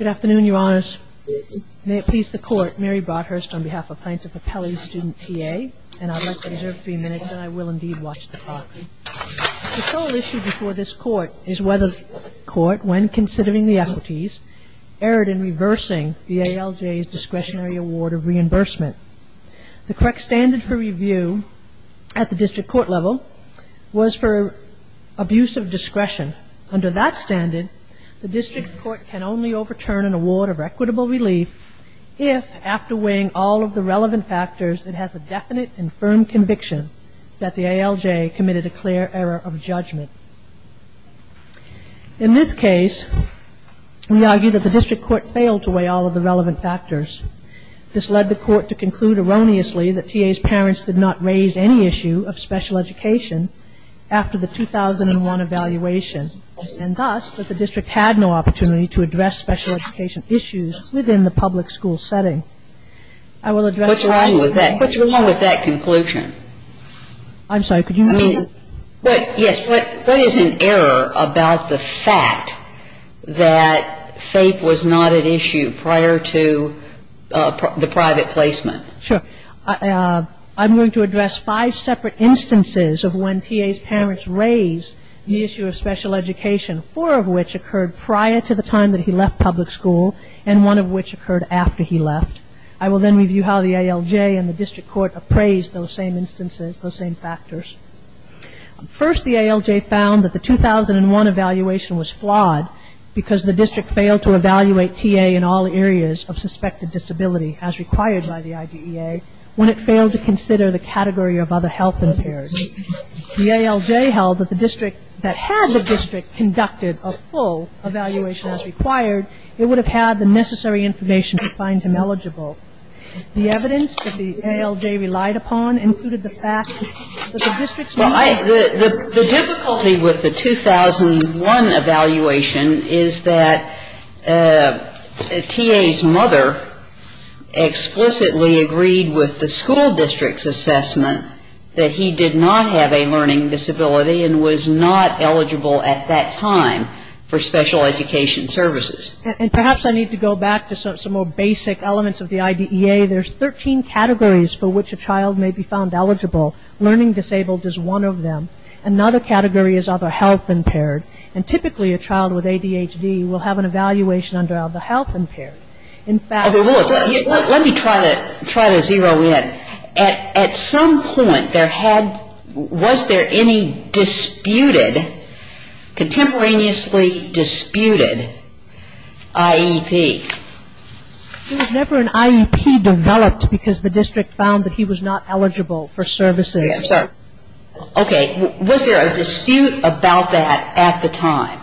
The sole issue before this Court is whether the Court, when considering the equities, erred in reversing the ALJ's Discretionary Award of Reimbursement. The correct standard for review at the District Court level was for abuse of discretion. Under that standard, the District Court can only overturn an award of equitable relief if, after weighing all of the relevant factors, it has a definite and firm conviction that the ALJ committed a clear error of judgment. In this case, we argue that the District Court failed to weigh all of the relevant factors. This led the Court to conclude erroneously that T.A.'s parents did not raise any issue of special education after the 2001 evaluation, and thus that the District had no opportunity to address special education issues within the public school setting. I will address the point. What's wrong with that? What's wrong with that conclusion? I'm sorry. Could you move? But, yes, what is an error about the fact that FAPE was not at issue prior to the private placement? Sure. I'm going to address five separate instances of when T.A.'s parents raised the issue of special education, four of which occurred prior to the time that he left public school and one of which occurred after he left. I will then review how the ALJ and the First, the ALJ found that the 2001 evaluation was flawed because the district failed to evaluate T.A. in all areas of suspected disability as required by the IDEA when it failed to consider the category of other health impaired. The ALJ held that the district that had the district conducted a full evaluation as required, it would have had the necessary information to find him eligible. The evidence that the ALJ relied upon included the fact that the district's member Well, the difficulty with the 2001 evaluation is that T.A.'s mother explicitly agreed with the school district's assessment that he did not have a learning disability and was not eligible at that time for special education services. And perhaps I need to go back to some more basic elements of the IDEA. There's 13 categories for which a child may be found eligible. Learning disabled is one of them. Another category is other health impaired. And typically a child with ADHD will have an evaluation under other health impaired. In fact Let me try to zero in. At some point there had, was there any disputed, contemporaneously disputed IEP? There was never an IEP developed because the district found that he was not eligible for services. I'm sorry. Okay. Was there a dispute about that at the time?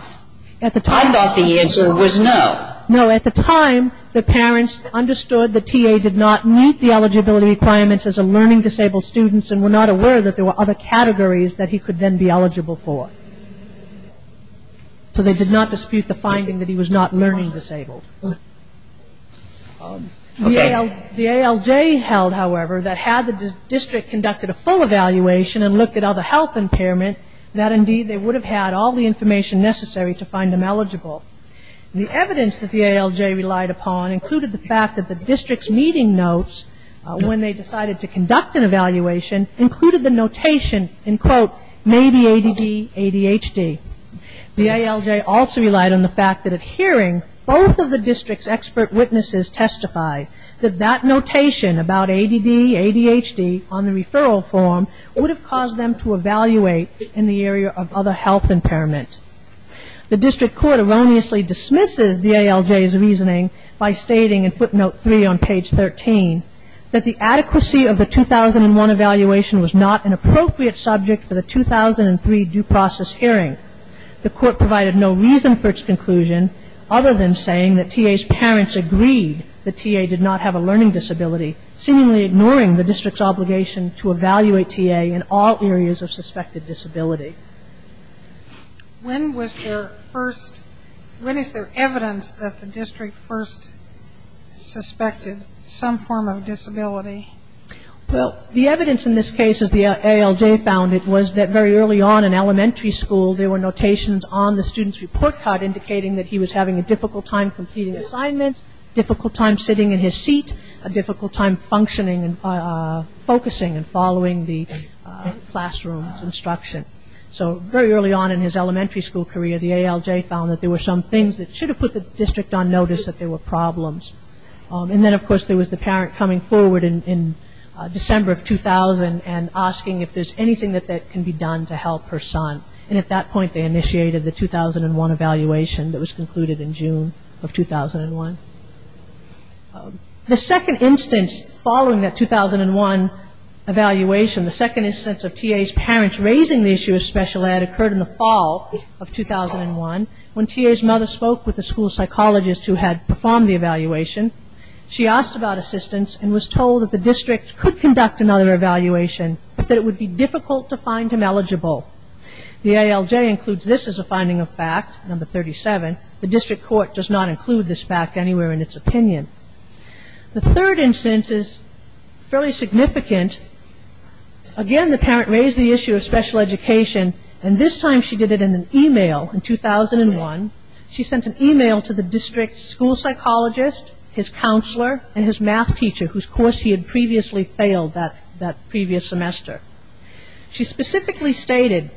At the time I thought the answer was no. No, at the time the parents understood that T.A. did not meet the eligibility requirements as a learning disabled student and were not aware that there were other categories that they did not dispute the finding that he was not learning disabled. The ALJ held, however, that had the district conducted a full evaluation and looked at other health impairment, that indeed they would have had all the information necessary to find him eligible. The evidence that the ALJ relied upon included the fact that the district's meeting notes, when they decided to conduct an evaluation, included the notation maybe ADD, ADHD. The ALJ also relied on the fact that at hearing, both of the district's expert witnesses testified that that notation about ADD, ADHD on the referral form would have caused them to evaluate in the area of other health impairment. The district court erroneously dismisses the ALJ's reasoning by stating in footnote three on page 13 that the adequacy of the 2001 evaluation was not an appropriate subject for the 2003 due process hearing. The court provided no reason for its conclusion other than saying that T.A.'s parents agreed that T.A. did not have a learning disability, seemingly ignoring the district's obligation to evaluate T.A. in all areas of suspected disability. When was there first, when is there evidence that the district first suspected some form of disability? Well, the evidence in this case, as the ALJ found it, was that very early on in elementary school there were notations on the student's report card indicating that he was having a difficult time completing assignments, difficult time sitting in his seat, a difficult time functioning and focusing and following the classroom's instruction. So very early on in his elementary school career the ALJ found that there were some things that should have put the district on notice that there were problems. And then of course there was the parent coming forward in December of 2000 and asking if there's anything that can be done to help her son. And at that point they initiated the 2001 evaluation that was concluded in June of 2001. The second instance following that 2001 evaluation, the second instance of T.A.'s parents raising the issue of special ed occurred in the fall of 2001 when T.A.'s mother spoke with the school psychologist who had performed the evaluation. She asked about assistance and was told that the district could conduct another evaluation but that it would be difficult to find him eligible. The ALJ includes this as a finding of fact, number 37. The district court does not include this fact anywhere in its opinion. The third instance is fairly significant. Again the parent raised the issue of special education and this time she did it in an email in 2001. She sent an email to the district school psychologist, his counselor and his math teacher whose course he had previously failed that previous semester. She specifically stated,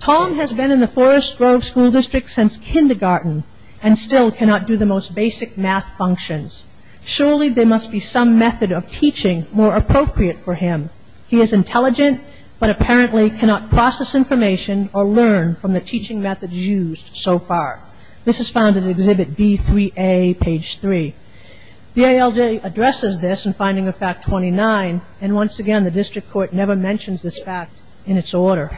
Tom has been in the Forest Grove School District since kindergarten and still cannot do the most basic math functions. Surely there must be some method of teaching more appropriate for him. He is intelligent but apparently cannot process information or learn from the teaching methods used so far. This is found in Exhibit B3A, page 3. The ALJ addresses this in finding of fact 29 and once again the district court never mentions this fact in its order.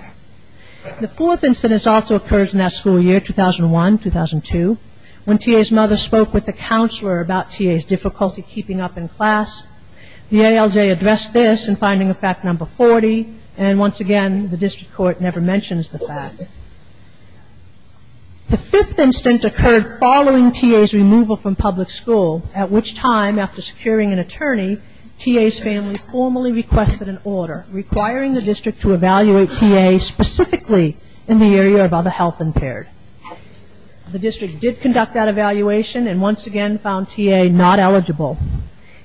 The fourth instance also occurs in that school year, 2001, 2002, when TA's mother spoke with the counselor about TA's difficulty keeping up in class. The ALJ addressed this in finding of fact number 40 and once again the district court never mentions the fact. The fifth instance occurred following TA's removal from public school at which time after securing an attorney, TA's family formally requested an order requiring the district to evaluate TA specifically in the area of other health impaired. The district did conduct that evaluation and once again found TA not eligible.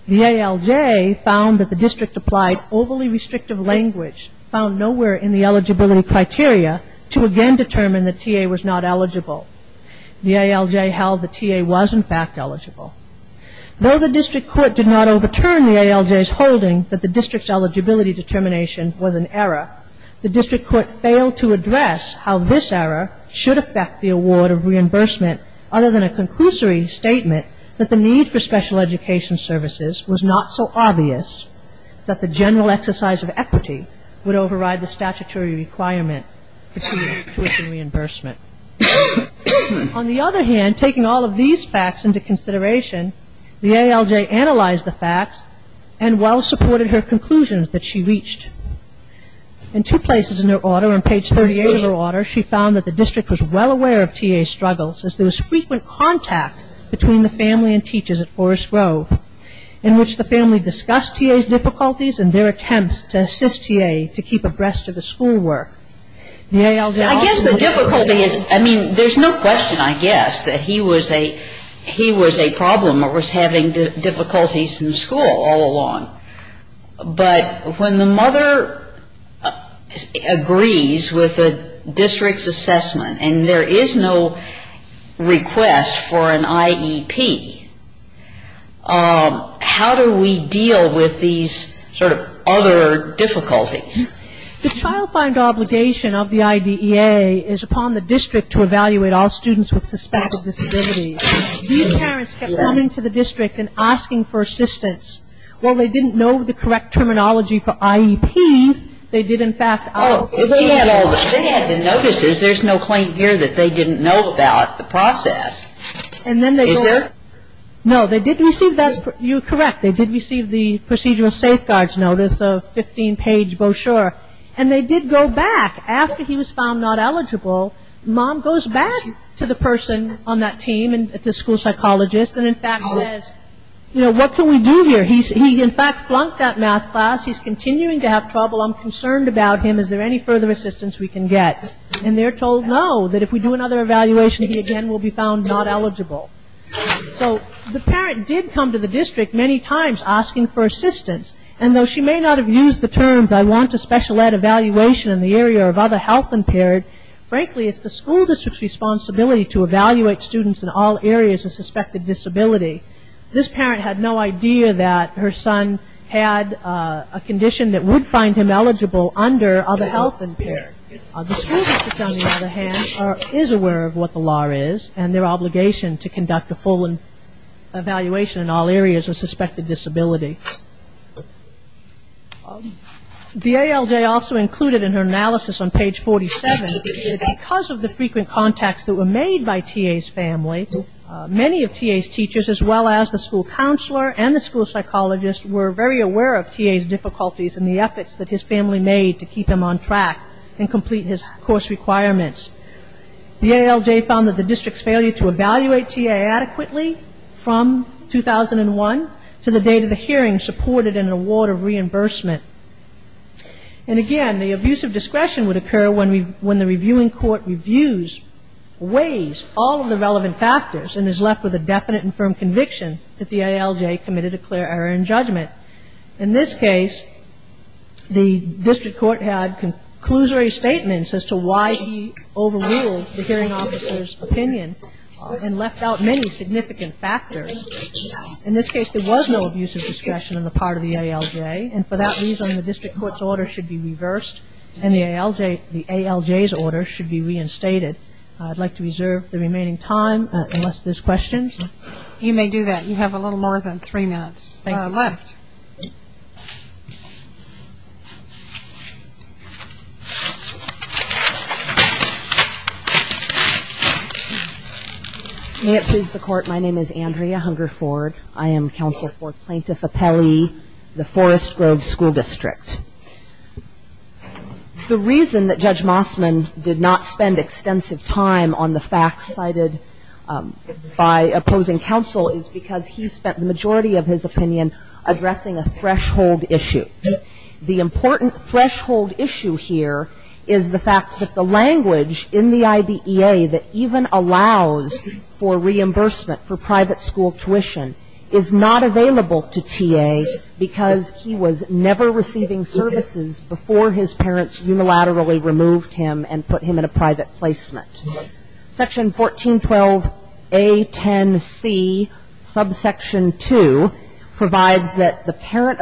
The ALJ found that the district applied overly restrictive language found nowhere in the eligibility criteria to again determine that TA was not eligible. The ALJ held that TA was in fact eligible. Though the district court did not overturn the ALJ's holding that the district's eligibility determination was an error, the district court failed to address how this error should affect the award of reimbursement other than a conclusory statement that the need for special education services was not so obvious that the general exercise of equity would override the statutory requirement for TA tuition reimbursement. On the other hand, taking all of these facts into consideration, the ALJ analyzed the facts and well supported her conclusions that she reached. In two places in her order, on page 38 of her order, she found that the district was well aware of TA's struggles as there was frequent contact between the family and teachers at Forest Grove in which the family discussed TA's difficulties and their attempts to assist TA to keep abreast of the school work. The ALJ also I guess the difficulty is, I mean, there's no question I guess that he was a, he was a problem or was having difficulties in school all along. But when the mother agrees with the district's assessment and there is no request for an IEP, how do we deal with these sort of other difficulties? The child find obligation of the IDEA is upon the district to evaluate all students with a suspected disability. These parents kept coming to the district and asking for assistance. While they didn't know the correct terminology for IEPs, they did in fact Oh, they had the notices. There's no claim here that they didn't know about the process. And then they Is there? No, they didn't receive that. You're correct. They did receive the procedural safeguards notice, a 15-page brochure. And they did go back. After he was found not eligible, mom goes back to the person on that team, the school psychologist, and in fact says, you know, what can we do here? He in fact flunked that math class. He's continuing to have trouble. I'm concerned about him. Is there any further assistance we can get? And they're told no, that if we do another evaluation, he again will be found not eligible. So the parent did come to the district many times asking for assistance. And though she may not have used the terms, I want a special ed evaluation in the area of other health impaired, frankly, it's the school district's responsibility to evaluate students in all areas of suspected disability. This parent had no idea that her son had a condition that would find him eligible under other health impaired. The school district, on the other hand, is aware of what the law is and their obligation to conduct a full evaluation in all areas of suspected disability. DALJ also included in her analysis on page 47 that because of the frequent contacts that were made by TA's family, many of TA's teachers as well as the school counselor and the school psychologist were very aware of TA's difficulties and the efforts that his family made to keep him on track and complete his course requirements. DALJ found that the district's failure to support it in an award of reimbursement. And again, the abuse of discretion would occur when the reviewing court reviews, weighs all of the relevant factors and is left with a definite and firm conviction that the IALJ committed a clear error in judgment. In this case, the district court had conclusory statements as to why he overruled the hearing officer's opinion and left out many significant factors. In this case, there was no abuse of discretion on the part of the IALJ and for that reason, the district court's order should be reversed and the IALJ's order should be reinstated. I would like to reserve the remaining time unless there are questions. You may do that. You have a little more than three minutes left. May it please the court, my name is Andrea Hungerford. I am counsel for Plaintiff Appellee, the Forest Grove School District. The reason that Judge Mossman did not spend extensive time on the facts cited by opposing counsel is because he spent the majority of his opinion addressing a threshold issue. The important threshold issue here is the fact that the parent of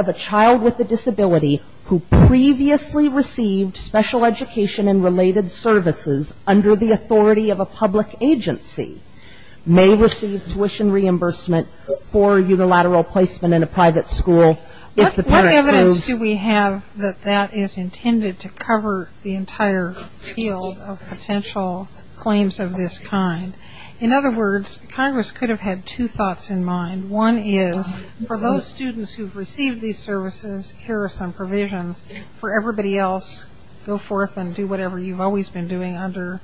a child with a disability who previously received special education and related services under the authority of a public agency may receive tuition reimbursement for unilateral placement in a private school if the parent moves to another school. What evidence do we have that that is intended to cover the entire field of potential claims of this kind? In other words, Congress could have had two thoughts in mind. One is for those students who have received these services, here are some provisions. For everybody else, go forth and do whatever you've always been doing under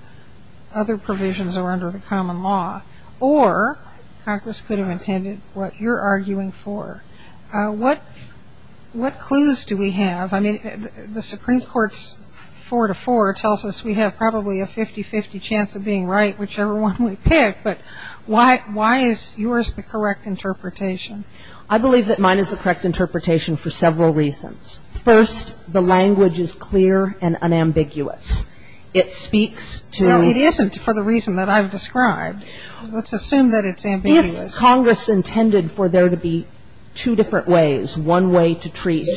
other provisions or under the common law. Or Congress could have intended what you're arguing for. What clues do we have? I mean, the Supreme Court's four to four tells us we have probably a 50-50 chance of being right, whichever one we pick, but why is yours the correct interpretation? I believe that mine is the correct interpretation for several reasons. First, the language is clear and unambiguous. It speaks to the need for the reason that I've described. Let's assume that it's ambiguous. If Congress intended for there to be two different ways, one way to treat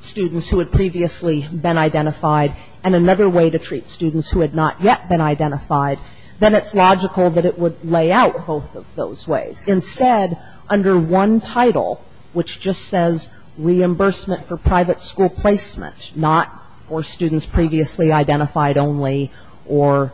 students who had previously been identified and another way to treat students who had not yet been identified, then it's logical that it would lay out both of those ways. Instead, under one title, which just says reimbursement for private school placement, not for students previously identified only or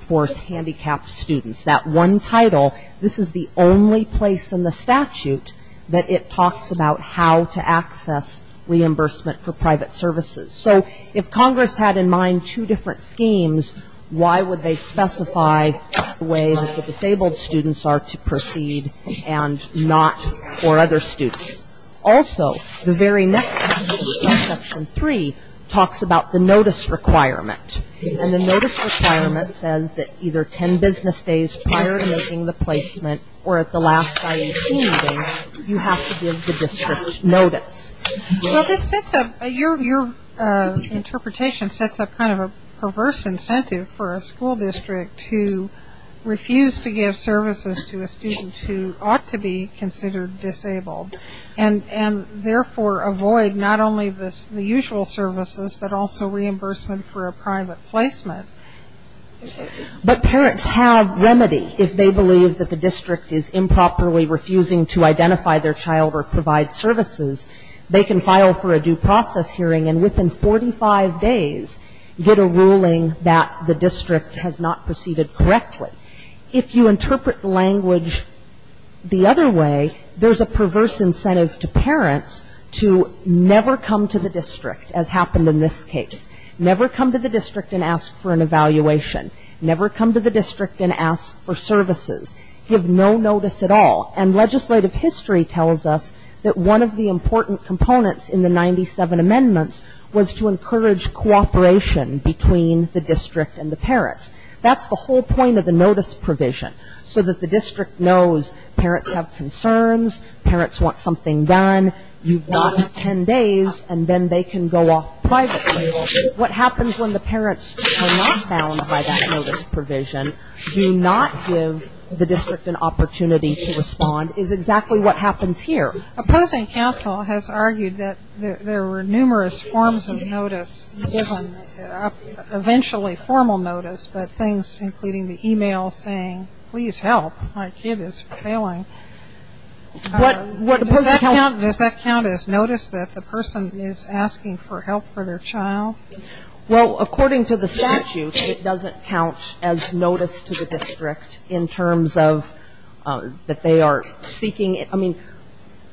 for handicapped students, that one title, this is the only place in the statute that it talks about how to access reimbursement for private services. So if Congress had in mind two different schemes, why would they specify the way that the disabled students are to proceed and not for other students? Also, the very next section, section three, talks about the notice requirement. And the notice requirement says that either ten business days prior to making the placement or at the last day of schooling, you have to give the district notice. Well, your interpretation sets up kind of a perverse incentive for a school district to refuse to give services to a student who ought to be considered disabled. And therefore avoid not only the usual services, but also reimbursement for a private placement. But parents have remedy if they believe that the district is improperly refusing to identify their child or provide services. They can file for a due process hearing and within 45 days get a ruling that the district has not proceeded correctly. If you interpret the language the other way, there's a perverse incentive to parents to never come to the district, as happened in this case. Never come to the district and ask for an evaluation. Never come to the district and ask for services. Give no notice at all. And legislative history tells us that one of the important components in the 97 amendments was to encourage cooperation between the district and the parents. That's the whole point of the notice provision, so that the district knows parents have concerns, parents want something done, you've got ten days, and then they can go off privately. What happens when the parents are not bound by that notice provision, do not give the district an opportunity to respond, is exactly what happens here. Opposing counsel has argued that there were numerous forms of notice given, eventually formal notice, but things including the e-mail saying, please help, my kid is failing. What does that count as? Does that count as notice that the person is asking for help for their child? Well, according to the statute, it doesn't count as notice to the district in terms of that they are seeking, I mean,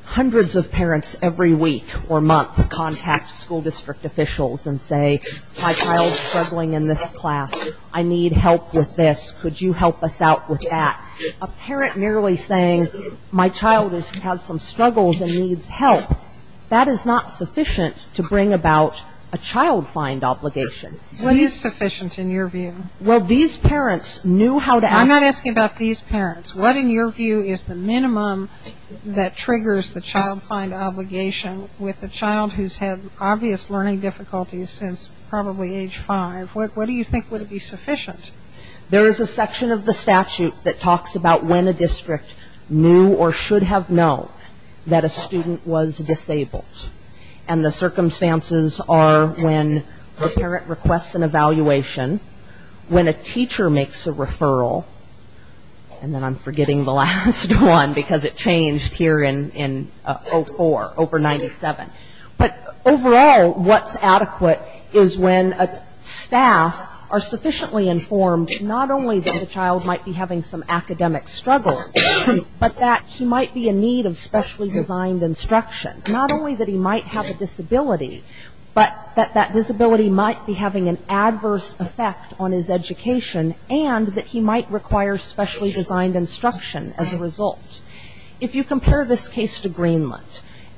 hundreds of parents every week or month contact school district officials and say, my child is struggling in this class. I need help with this. Could you help us out with that? A parent merely saying, my child has some struggles and needs help, that is not sufficient to bring about a child find obligation. What is sufficient in your view? Well, these parents knew how to ask about these parents. What in your view is the minimum that triggers the child find obligation with a child who has had obvious learning difficulties since probably age 5? What do you think would be sufficient? There is a section of the statute that talks about when a district knew or should have known that a student was disabled. And the circumstances are when a parent requests an I'm forgetting the last one because it changed here in 04, over 97. But overall, what's adequate is when a staff are sufficiently informed not only that the child might be having some academic struggles, but that he might be in need of specially designed instruction. Not only that he might have a disability, but that that disability might be having an adverse effect on his education and that he might require specially designed instruction as a result. If you compare this case to Greenland,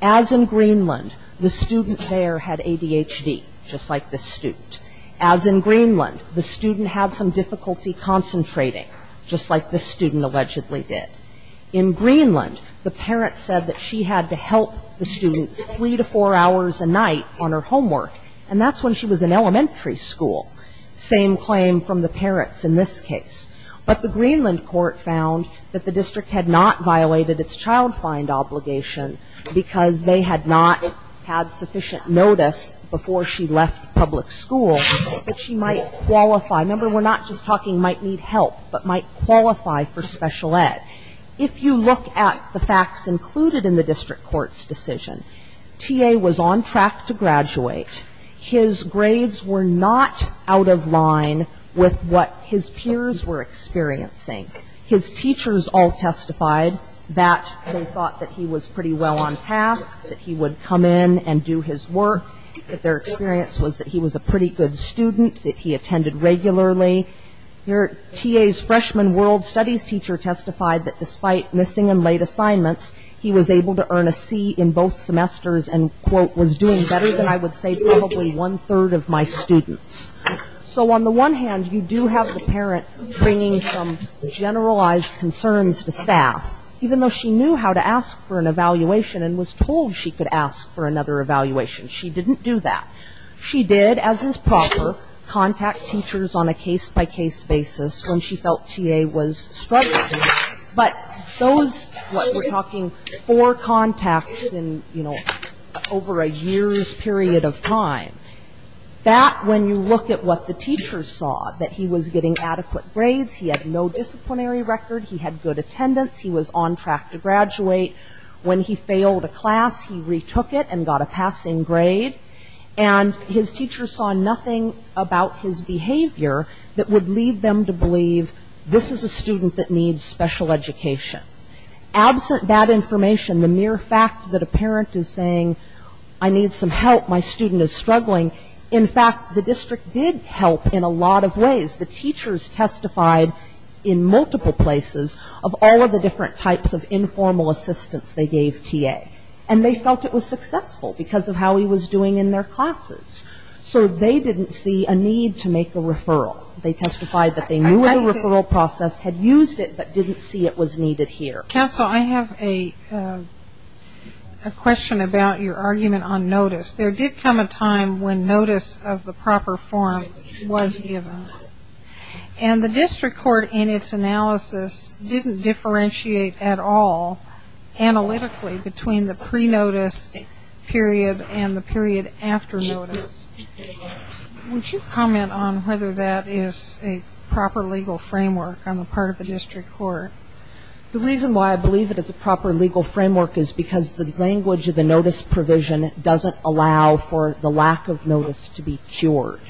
as in Greenland, the student there had ADHD, just like this student. As in Greenland, the student had some difficulty concentrating, just like this student allegedly did. In Greenland, the parent said that she had to help the student three to four hours a night on her homework. And that's when she was in elementary school. Same claim from the parents in this case. But the Greenland court found that the district had not violated its child find obligation because they had not had sufficient notice before she left public school that she might qualify. Remember, we're not just talking might need help, but might qualify for special ed. If you look at the facts included in the district court's decision, T.A. was on track to graduate. His grades were not out of line with what his peers were experiencing. His teachers all testified that they thought that he was pretty well on task, that he would come in and do his work, that their experience was that he was a pretty good student, that he testified that despite missing and late assignments, he was able to earn a C in both semesters and quote, was doing better than I would say probably one-third of my students. So on the one hand, you do have the parent bringing some generalized concerns to staff, even though she knew how to ask for an evaluation and was told she could ask for another evaluation. She didn't do that. She did, as is proper, contact teachers on a case-by-case basis when she felt T.A. was struggling. But those, what we're talking four contacts in, you know, over a year's period of time, that when you look at what the teachers saw, that he was getting adequate grades, he had no disciplinary record, he had good attendance, he was on track to graduate. When he failed a class, he retook it and got a passing grade. And his teachers saw nothing about his behavior that would lead them to believe this is a student that needs special education. Absent that information, the mere fact that a parent is saying, I need some help, my student is struggling, in fact, the district did help in a lot of ways. The teachers testified in multiple places of all of the different types of informal assistance they gave T.A. And they felt it was successful because of how he was doing in their classes. So they didn't see a need to make a referral. They testified that they knew the referral process, had used it, but didn't see it was needed here. Counsel, I have a question about your argument on notice. There did come a time when notice of the proper form was given. And the district court, in its analysis, didn't differentiate at all analytically between the pre-notice period and the period after notice. Would you comment on whether that is a proper legal framework on the part of the district court? The reason why I believe it is a proper legal framework is because the language of the notice provision doesn't allow for the lack of notice to be cured.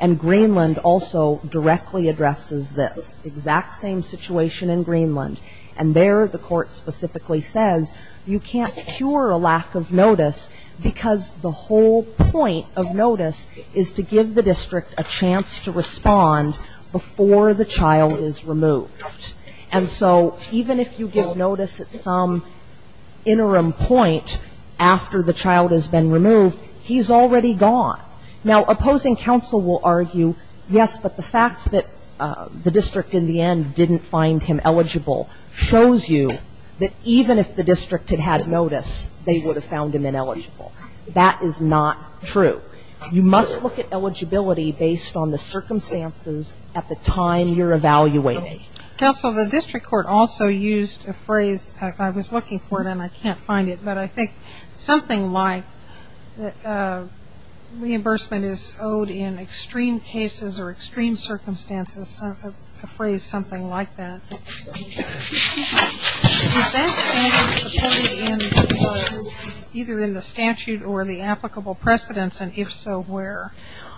And Greenland also directly addresses this exact same situation in Greenland. And there the court specifically says you can't cure a lack of notice because the whole point of notice is to give the district a chance to respond before the child is removed. And so even if you give notice at some interim point after the child has been removed, he's already gone. Now, opposing counsel will argue, yes, but the fact that the district in the end didn't find him eligible shows you that even if the district had had notice, they would have found him ineligible. That is not true. You must look at eligibility based on the circumstances at the time you're evaluating. Counsel, the district court also used a phrase. I was looking for it and I can't find it. But I think something like that reimbursement is owed in extreme cases or extreme circumstances, a phrase something like that, is that supported either in the statute or the applicable precedents and if so, where?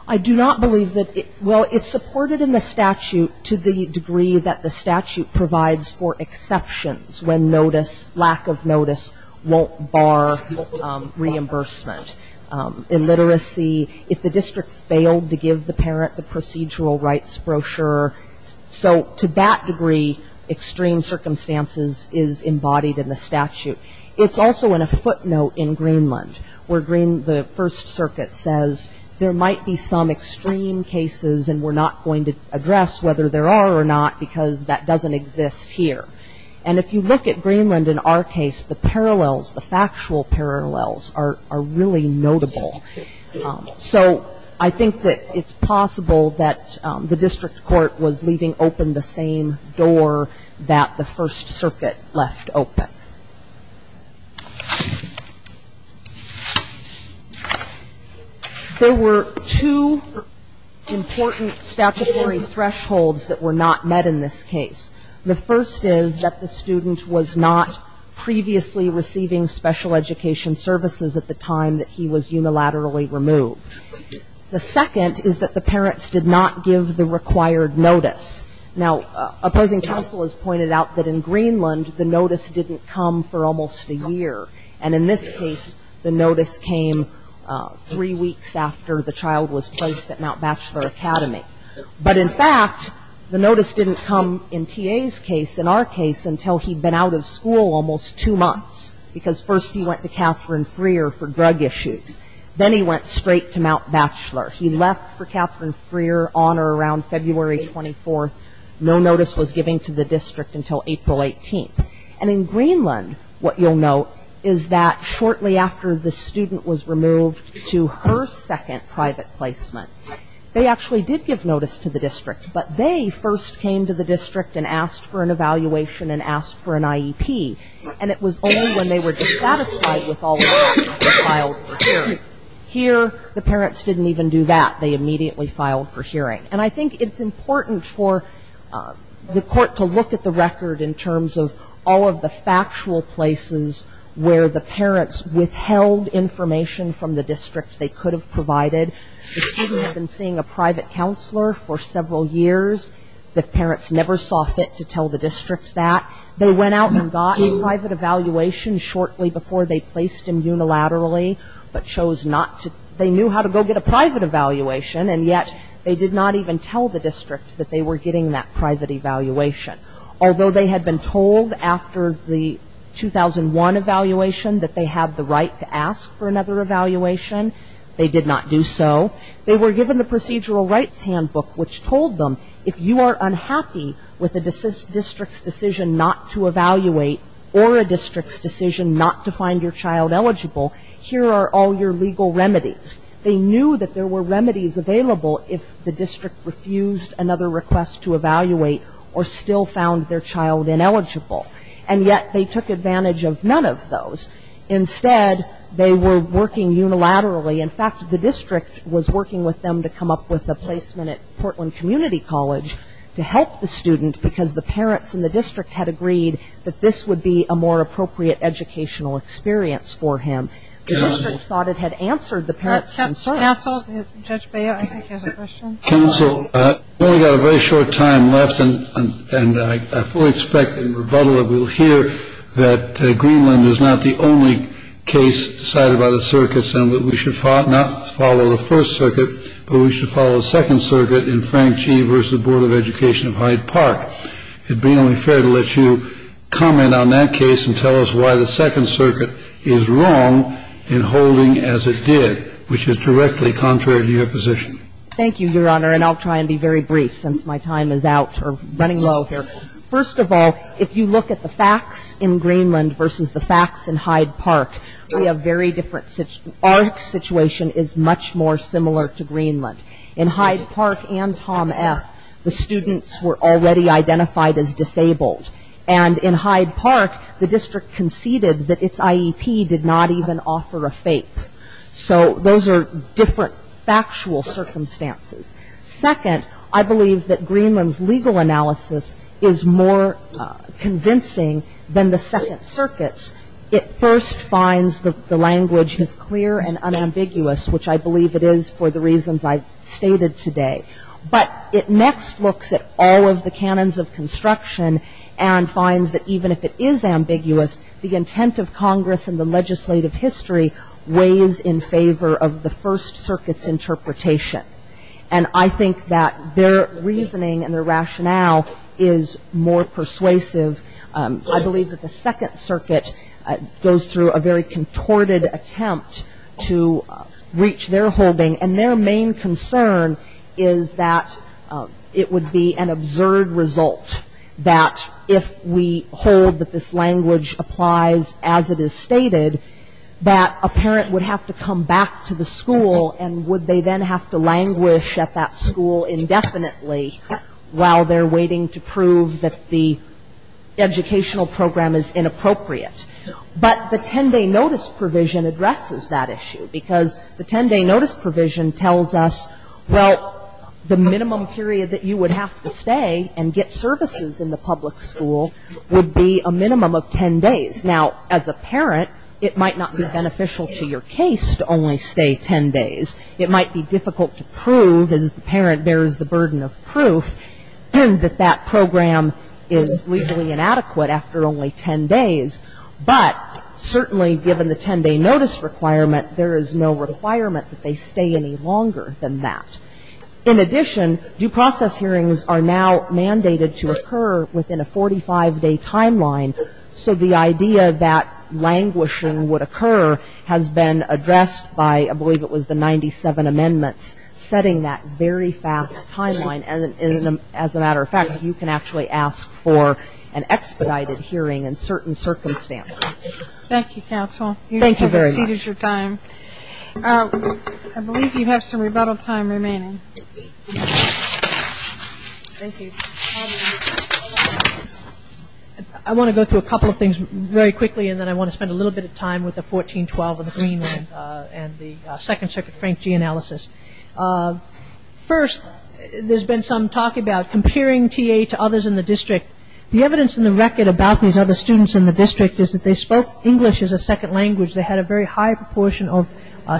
I do not believe that. Well, it's supported in the statute to the degree that the statute provides for exceptions when notice, lack of notice won't bar reimbursement. Illiteracy, if the district failed to give the parent the procedural rights brochure. So to that degree, extreme circumstances is embodied in the statute. It's also in a footnote in Greenland where the First Circuit says there might be some extreme cases and we're not going to address whether there are or not because that doesn't exist here. And if you look at Greenland in our case, the parallels, the factual parallels are really notable. So I think that it's possible that the district court was leaving open the same door that the First Circuit left open. There were two important statutory thresholds that were not met in this case. The first is that the student was not previously receiving special education services at the time that he was unilaterally removed. The second is that the parents did not give the required notice. Now, opposing counsel has pointed out that in Greenland, the notice didn't come for almost a year. And in this case, the notice came three weeks after the child was placed at Mount Batchelor Academy. But in fact, the notice didn't come in T.A.'s case, in our case, until he'd been out of school almost two months because first he went to Catherine Freer for drug issues. Then he went straight to Mount Batchelor. He left for Catherine Freer on or around February 24th. No notice was given to the district until April 18th. And in Greenland, what you'll note is that shortly after the student was removed to her second private placement, they actually did give notice to the district. But they first came to the district and asked for an evaluation and asked for an IEP. And it was only when they were dissatisfied with all of that that they filed for hearing. Here, the parents didn't even do that. They immediately filed for hearing. And I think it's important for the Court to look at the record in terms of all of the factual places where the parents withheld information from the district they could have provided. The student had been seeing a private counselor for several years. The parents never saw fit to tell the district that. They went out and got a private evaluation shortly before they placed him unilaterally, but chose not to. They knew how to go get a private evaluation, and yet they did not even tell the district that they were getting that private evaluation. Although they had been told after the 2001 evaluation that they had the right to ask for another evaluation, they did not do so. They were given the procedural rights handbook, which told them if you are unhappy with a district's decision not to evaluate or a district's decision not to find your child eligible, here are all your legal remedies. They knew that there were remedies available if the district refused another request to evaluate or still found their child ineligible. And yet they took advantage of none of those. Instead, they were working unilaterally. In fact, the district was working with them to come up with a placement at Portland Community College to help the student because the parents in the district had agreed that this would be a more appropriate educational experience for him. The district thought it had answered the parents' concerns. Counsel, Judge Baio, I think he has a question. Counsel, we've only got a very short time left, and I fully expect in rebuttal that we will hear that Greenland is not the only case cited by the circuits and that we should not follow the first circuit, but we should follow the second circuit in Frank G. v. Board of Education of Hyde Park. It would be only fair to let you comment on that case and tell us why the second circuit is wrong in holding as it did, which is directly contrary to your position. Thank you, Your Honor, and I'll try and be very brief since my time is out or running low here. First of all, if you look at the facts in Greenland versus the facts in Hyde Park, we have very different situations. Our situation is much more similar to Greenland. In Hyde Park and Tom F., the students were already identified as disabled. And in Hyde Park, the district conceded that its IEP did not even offer a FAPE. So those are different factual circumstances. Second, I believe that Greenland's legal analysis is more convincing than the second circuit's. It first finds that the language is clear and unambiguous, which I believe it is for the reasons I've stated today. But it next looks at all of the canons of construction and finds that even if it is in favor of the first circuit's interpretation, and I think that their reasoning and their rationale is more persuasive, I believe that the second circuit goes through a very contorted attempt to reach their holding. And their main concern is that it would be an absurd result that if we hold that this language applies as it is in favor of the first circuit, that they would have to come back to the school and would they then have to languish at that school indefinitely while they're waiting to prove that the educational program is inappropriate. But the 10-day notice provision addresses that issue. Because the 10-day notice provision tells us, well, the minimum period that you would have to stay and get services in the public school would be a minimum of 10 days. Now, as a parent, it might not be the case to only stay 10 days. It might be difficult to prove, as the parent bears the burden of proof, that that program is legally inadequate after only 10 days. But certainly given the 10-day notice requirement, there is no requirement that they stay any longer than that. In addition, due process hearings are now mandated to occur within a 10-day notice. And addressed by, I believe it was the 97 amendments, setting that very fast timeline. And as a matter of fact, you can actually ask for an expedited hearing in certain circumstances. Thank you, counsel. You have exceeded your time. I believe you have some rebuttal time remaining. Thank you. I want to go through a couple of things very quickly. And then I want to spend a little bit of time with the 14-12 and the Greenland and the Second Circuit Frank G. analysis. First, there's been some talk about comparing TA to others in the district. The evidence in the record about these other students in the district is that they spoke English as a second language. They had a very high proportion of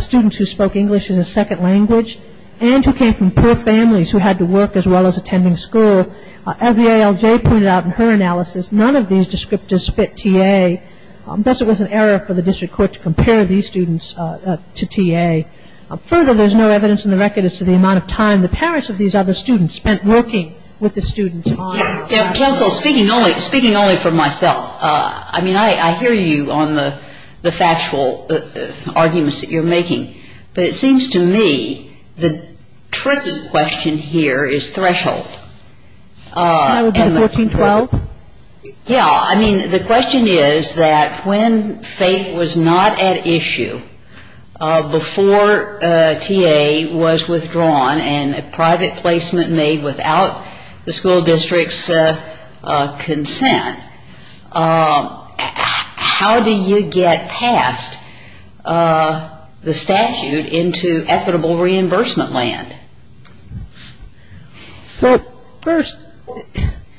students who spoke English as a second language and who came from poor families who had to go to school. As the ALJ pointed out in her analysis, none of these descriptors fit TA. Thus, it was an error for the district court to compare these students to TA. Further, there's no evidence in the record as to the amount of time the parents of these other students spent working with the students. Counsel, speaking only for myself, I mean, I hear you on the factual arguments that you're making. But it seems to me the tricky question here is threshold. Can I repeat 14-12? Yeah. I mean, the question is that when fate was not at issue before TA was withdrawn and a private placement made without the school district's consent, how do you get past the statute into equitable reimbursement land? Well, first,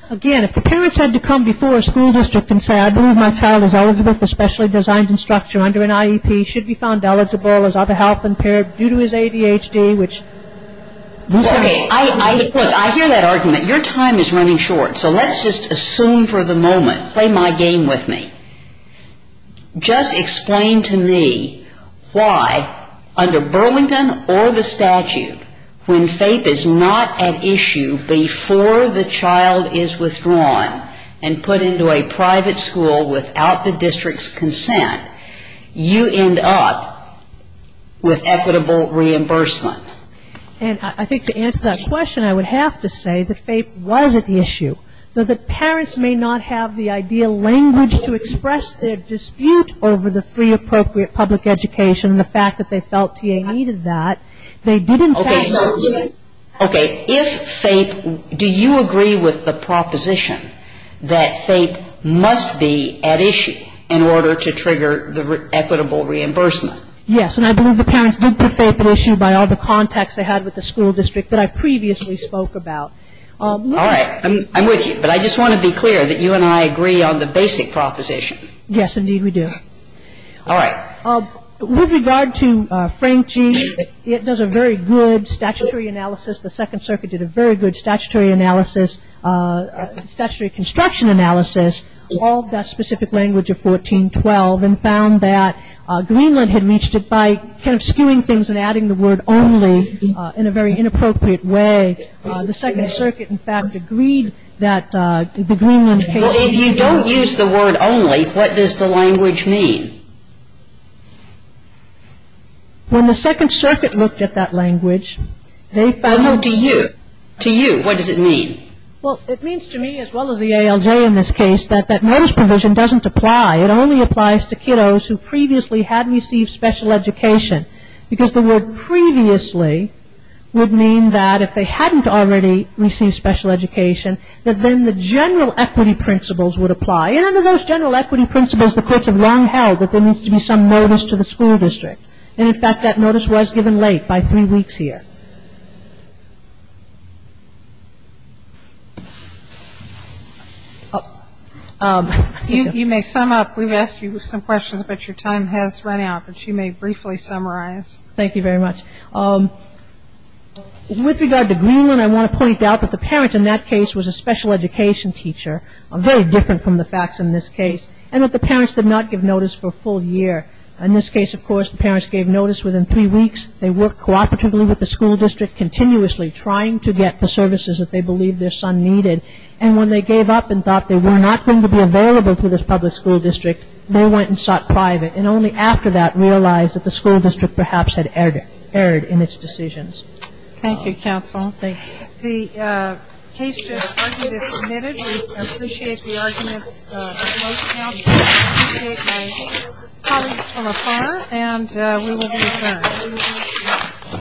again, if the parents had to come before a school district and say, I believe my child is eligible for specially designed instruction under an IEP, should be found eligible as other health impaired due to his ADHD, which... Okay. I hear that argument. Your time is running short. So let's just assume for the moment, play my game with me. Just explain to me why, under Burlington or the statute, when fate is not at issue before the child is withdrawn and put into a private school without the district's consent, you end up with equitable reimbursement. And I think to answer that question, I would have to say that fate was at issue. Though the parents may not have the ideal language to express their dispute over the free appropriate public education and the fact that they felt TA needed that, they didn't... Okay. If fate, do you agree with the proposition that fate must be at issue in order to trigger the equitable reimbursement? Yes. And I believe the parents did put fate at issue by all the contacts they had with the school district that I previously spoke about. Yes, indeed we do. All right. With regard to Frank G., it does a very good statutory analysis. The Second Circuit did a very good statutory analysis, statutory construction analysis of that specific language of 1412 and found that Greenland had reached it by kind of skewing things and adding the word only in a very inappropriate way. The Second Circuit, in fact, agreed that the Greenland case... Well, if you don't use the word only, what does the language mean? When the Second Circuit looked at that language, they found... Well, no, to you. To you, what does it mean? Well, it means to me, as well as the ALJ in this case, that that notice provision doesn't apply. It only applies to kiddos who previously had received special education. Because the word previously would mean that if they hadn't already received special education, that then the general equity principles would apply. And under those general equity principles, the courts have long held that there needs to be some notice to the school district. And, in fact, that notice was given late, by three weeks here. You may sum up. We've asked you some questions, but your time has run out. But you may briefly summarize. Thank you very much. With regard to Greenland, I want to point out that the parent in that case was a special education teacher, very different from the facts in this case, and that the parents did not give notice for a full year. In this case, of course, the parents gave notice within three weeks. They worked cooperatively with the school district continuously, trying to get the services that they believed their son needed. And when they gave up and thought they were not going to be available to this public school district, they went and sought private, and only after that realized that the school district perhaps had erred in its decisions. Thank you. I appreciate the arguments. I appreciate my colleagues from afar. And we will be returning.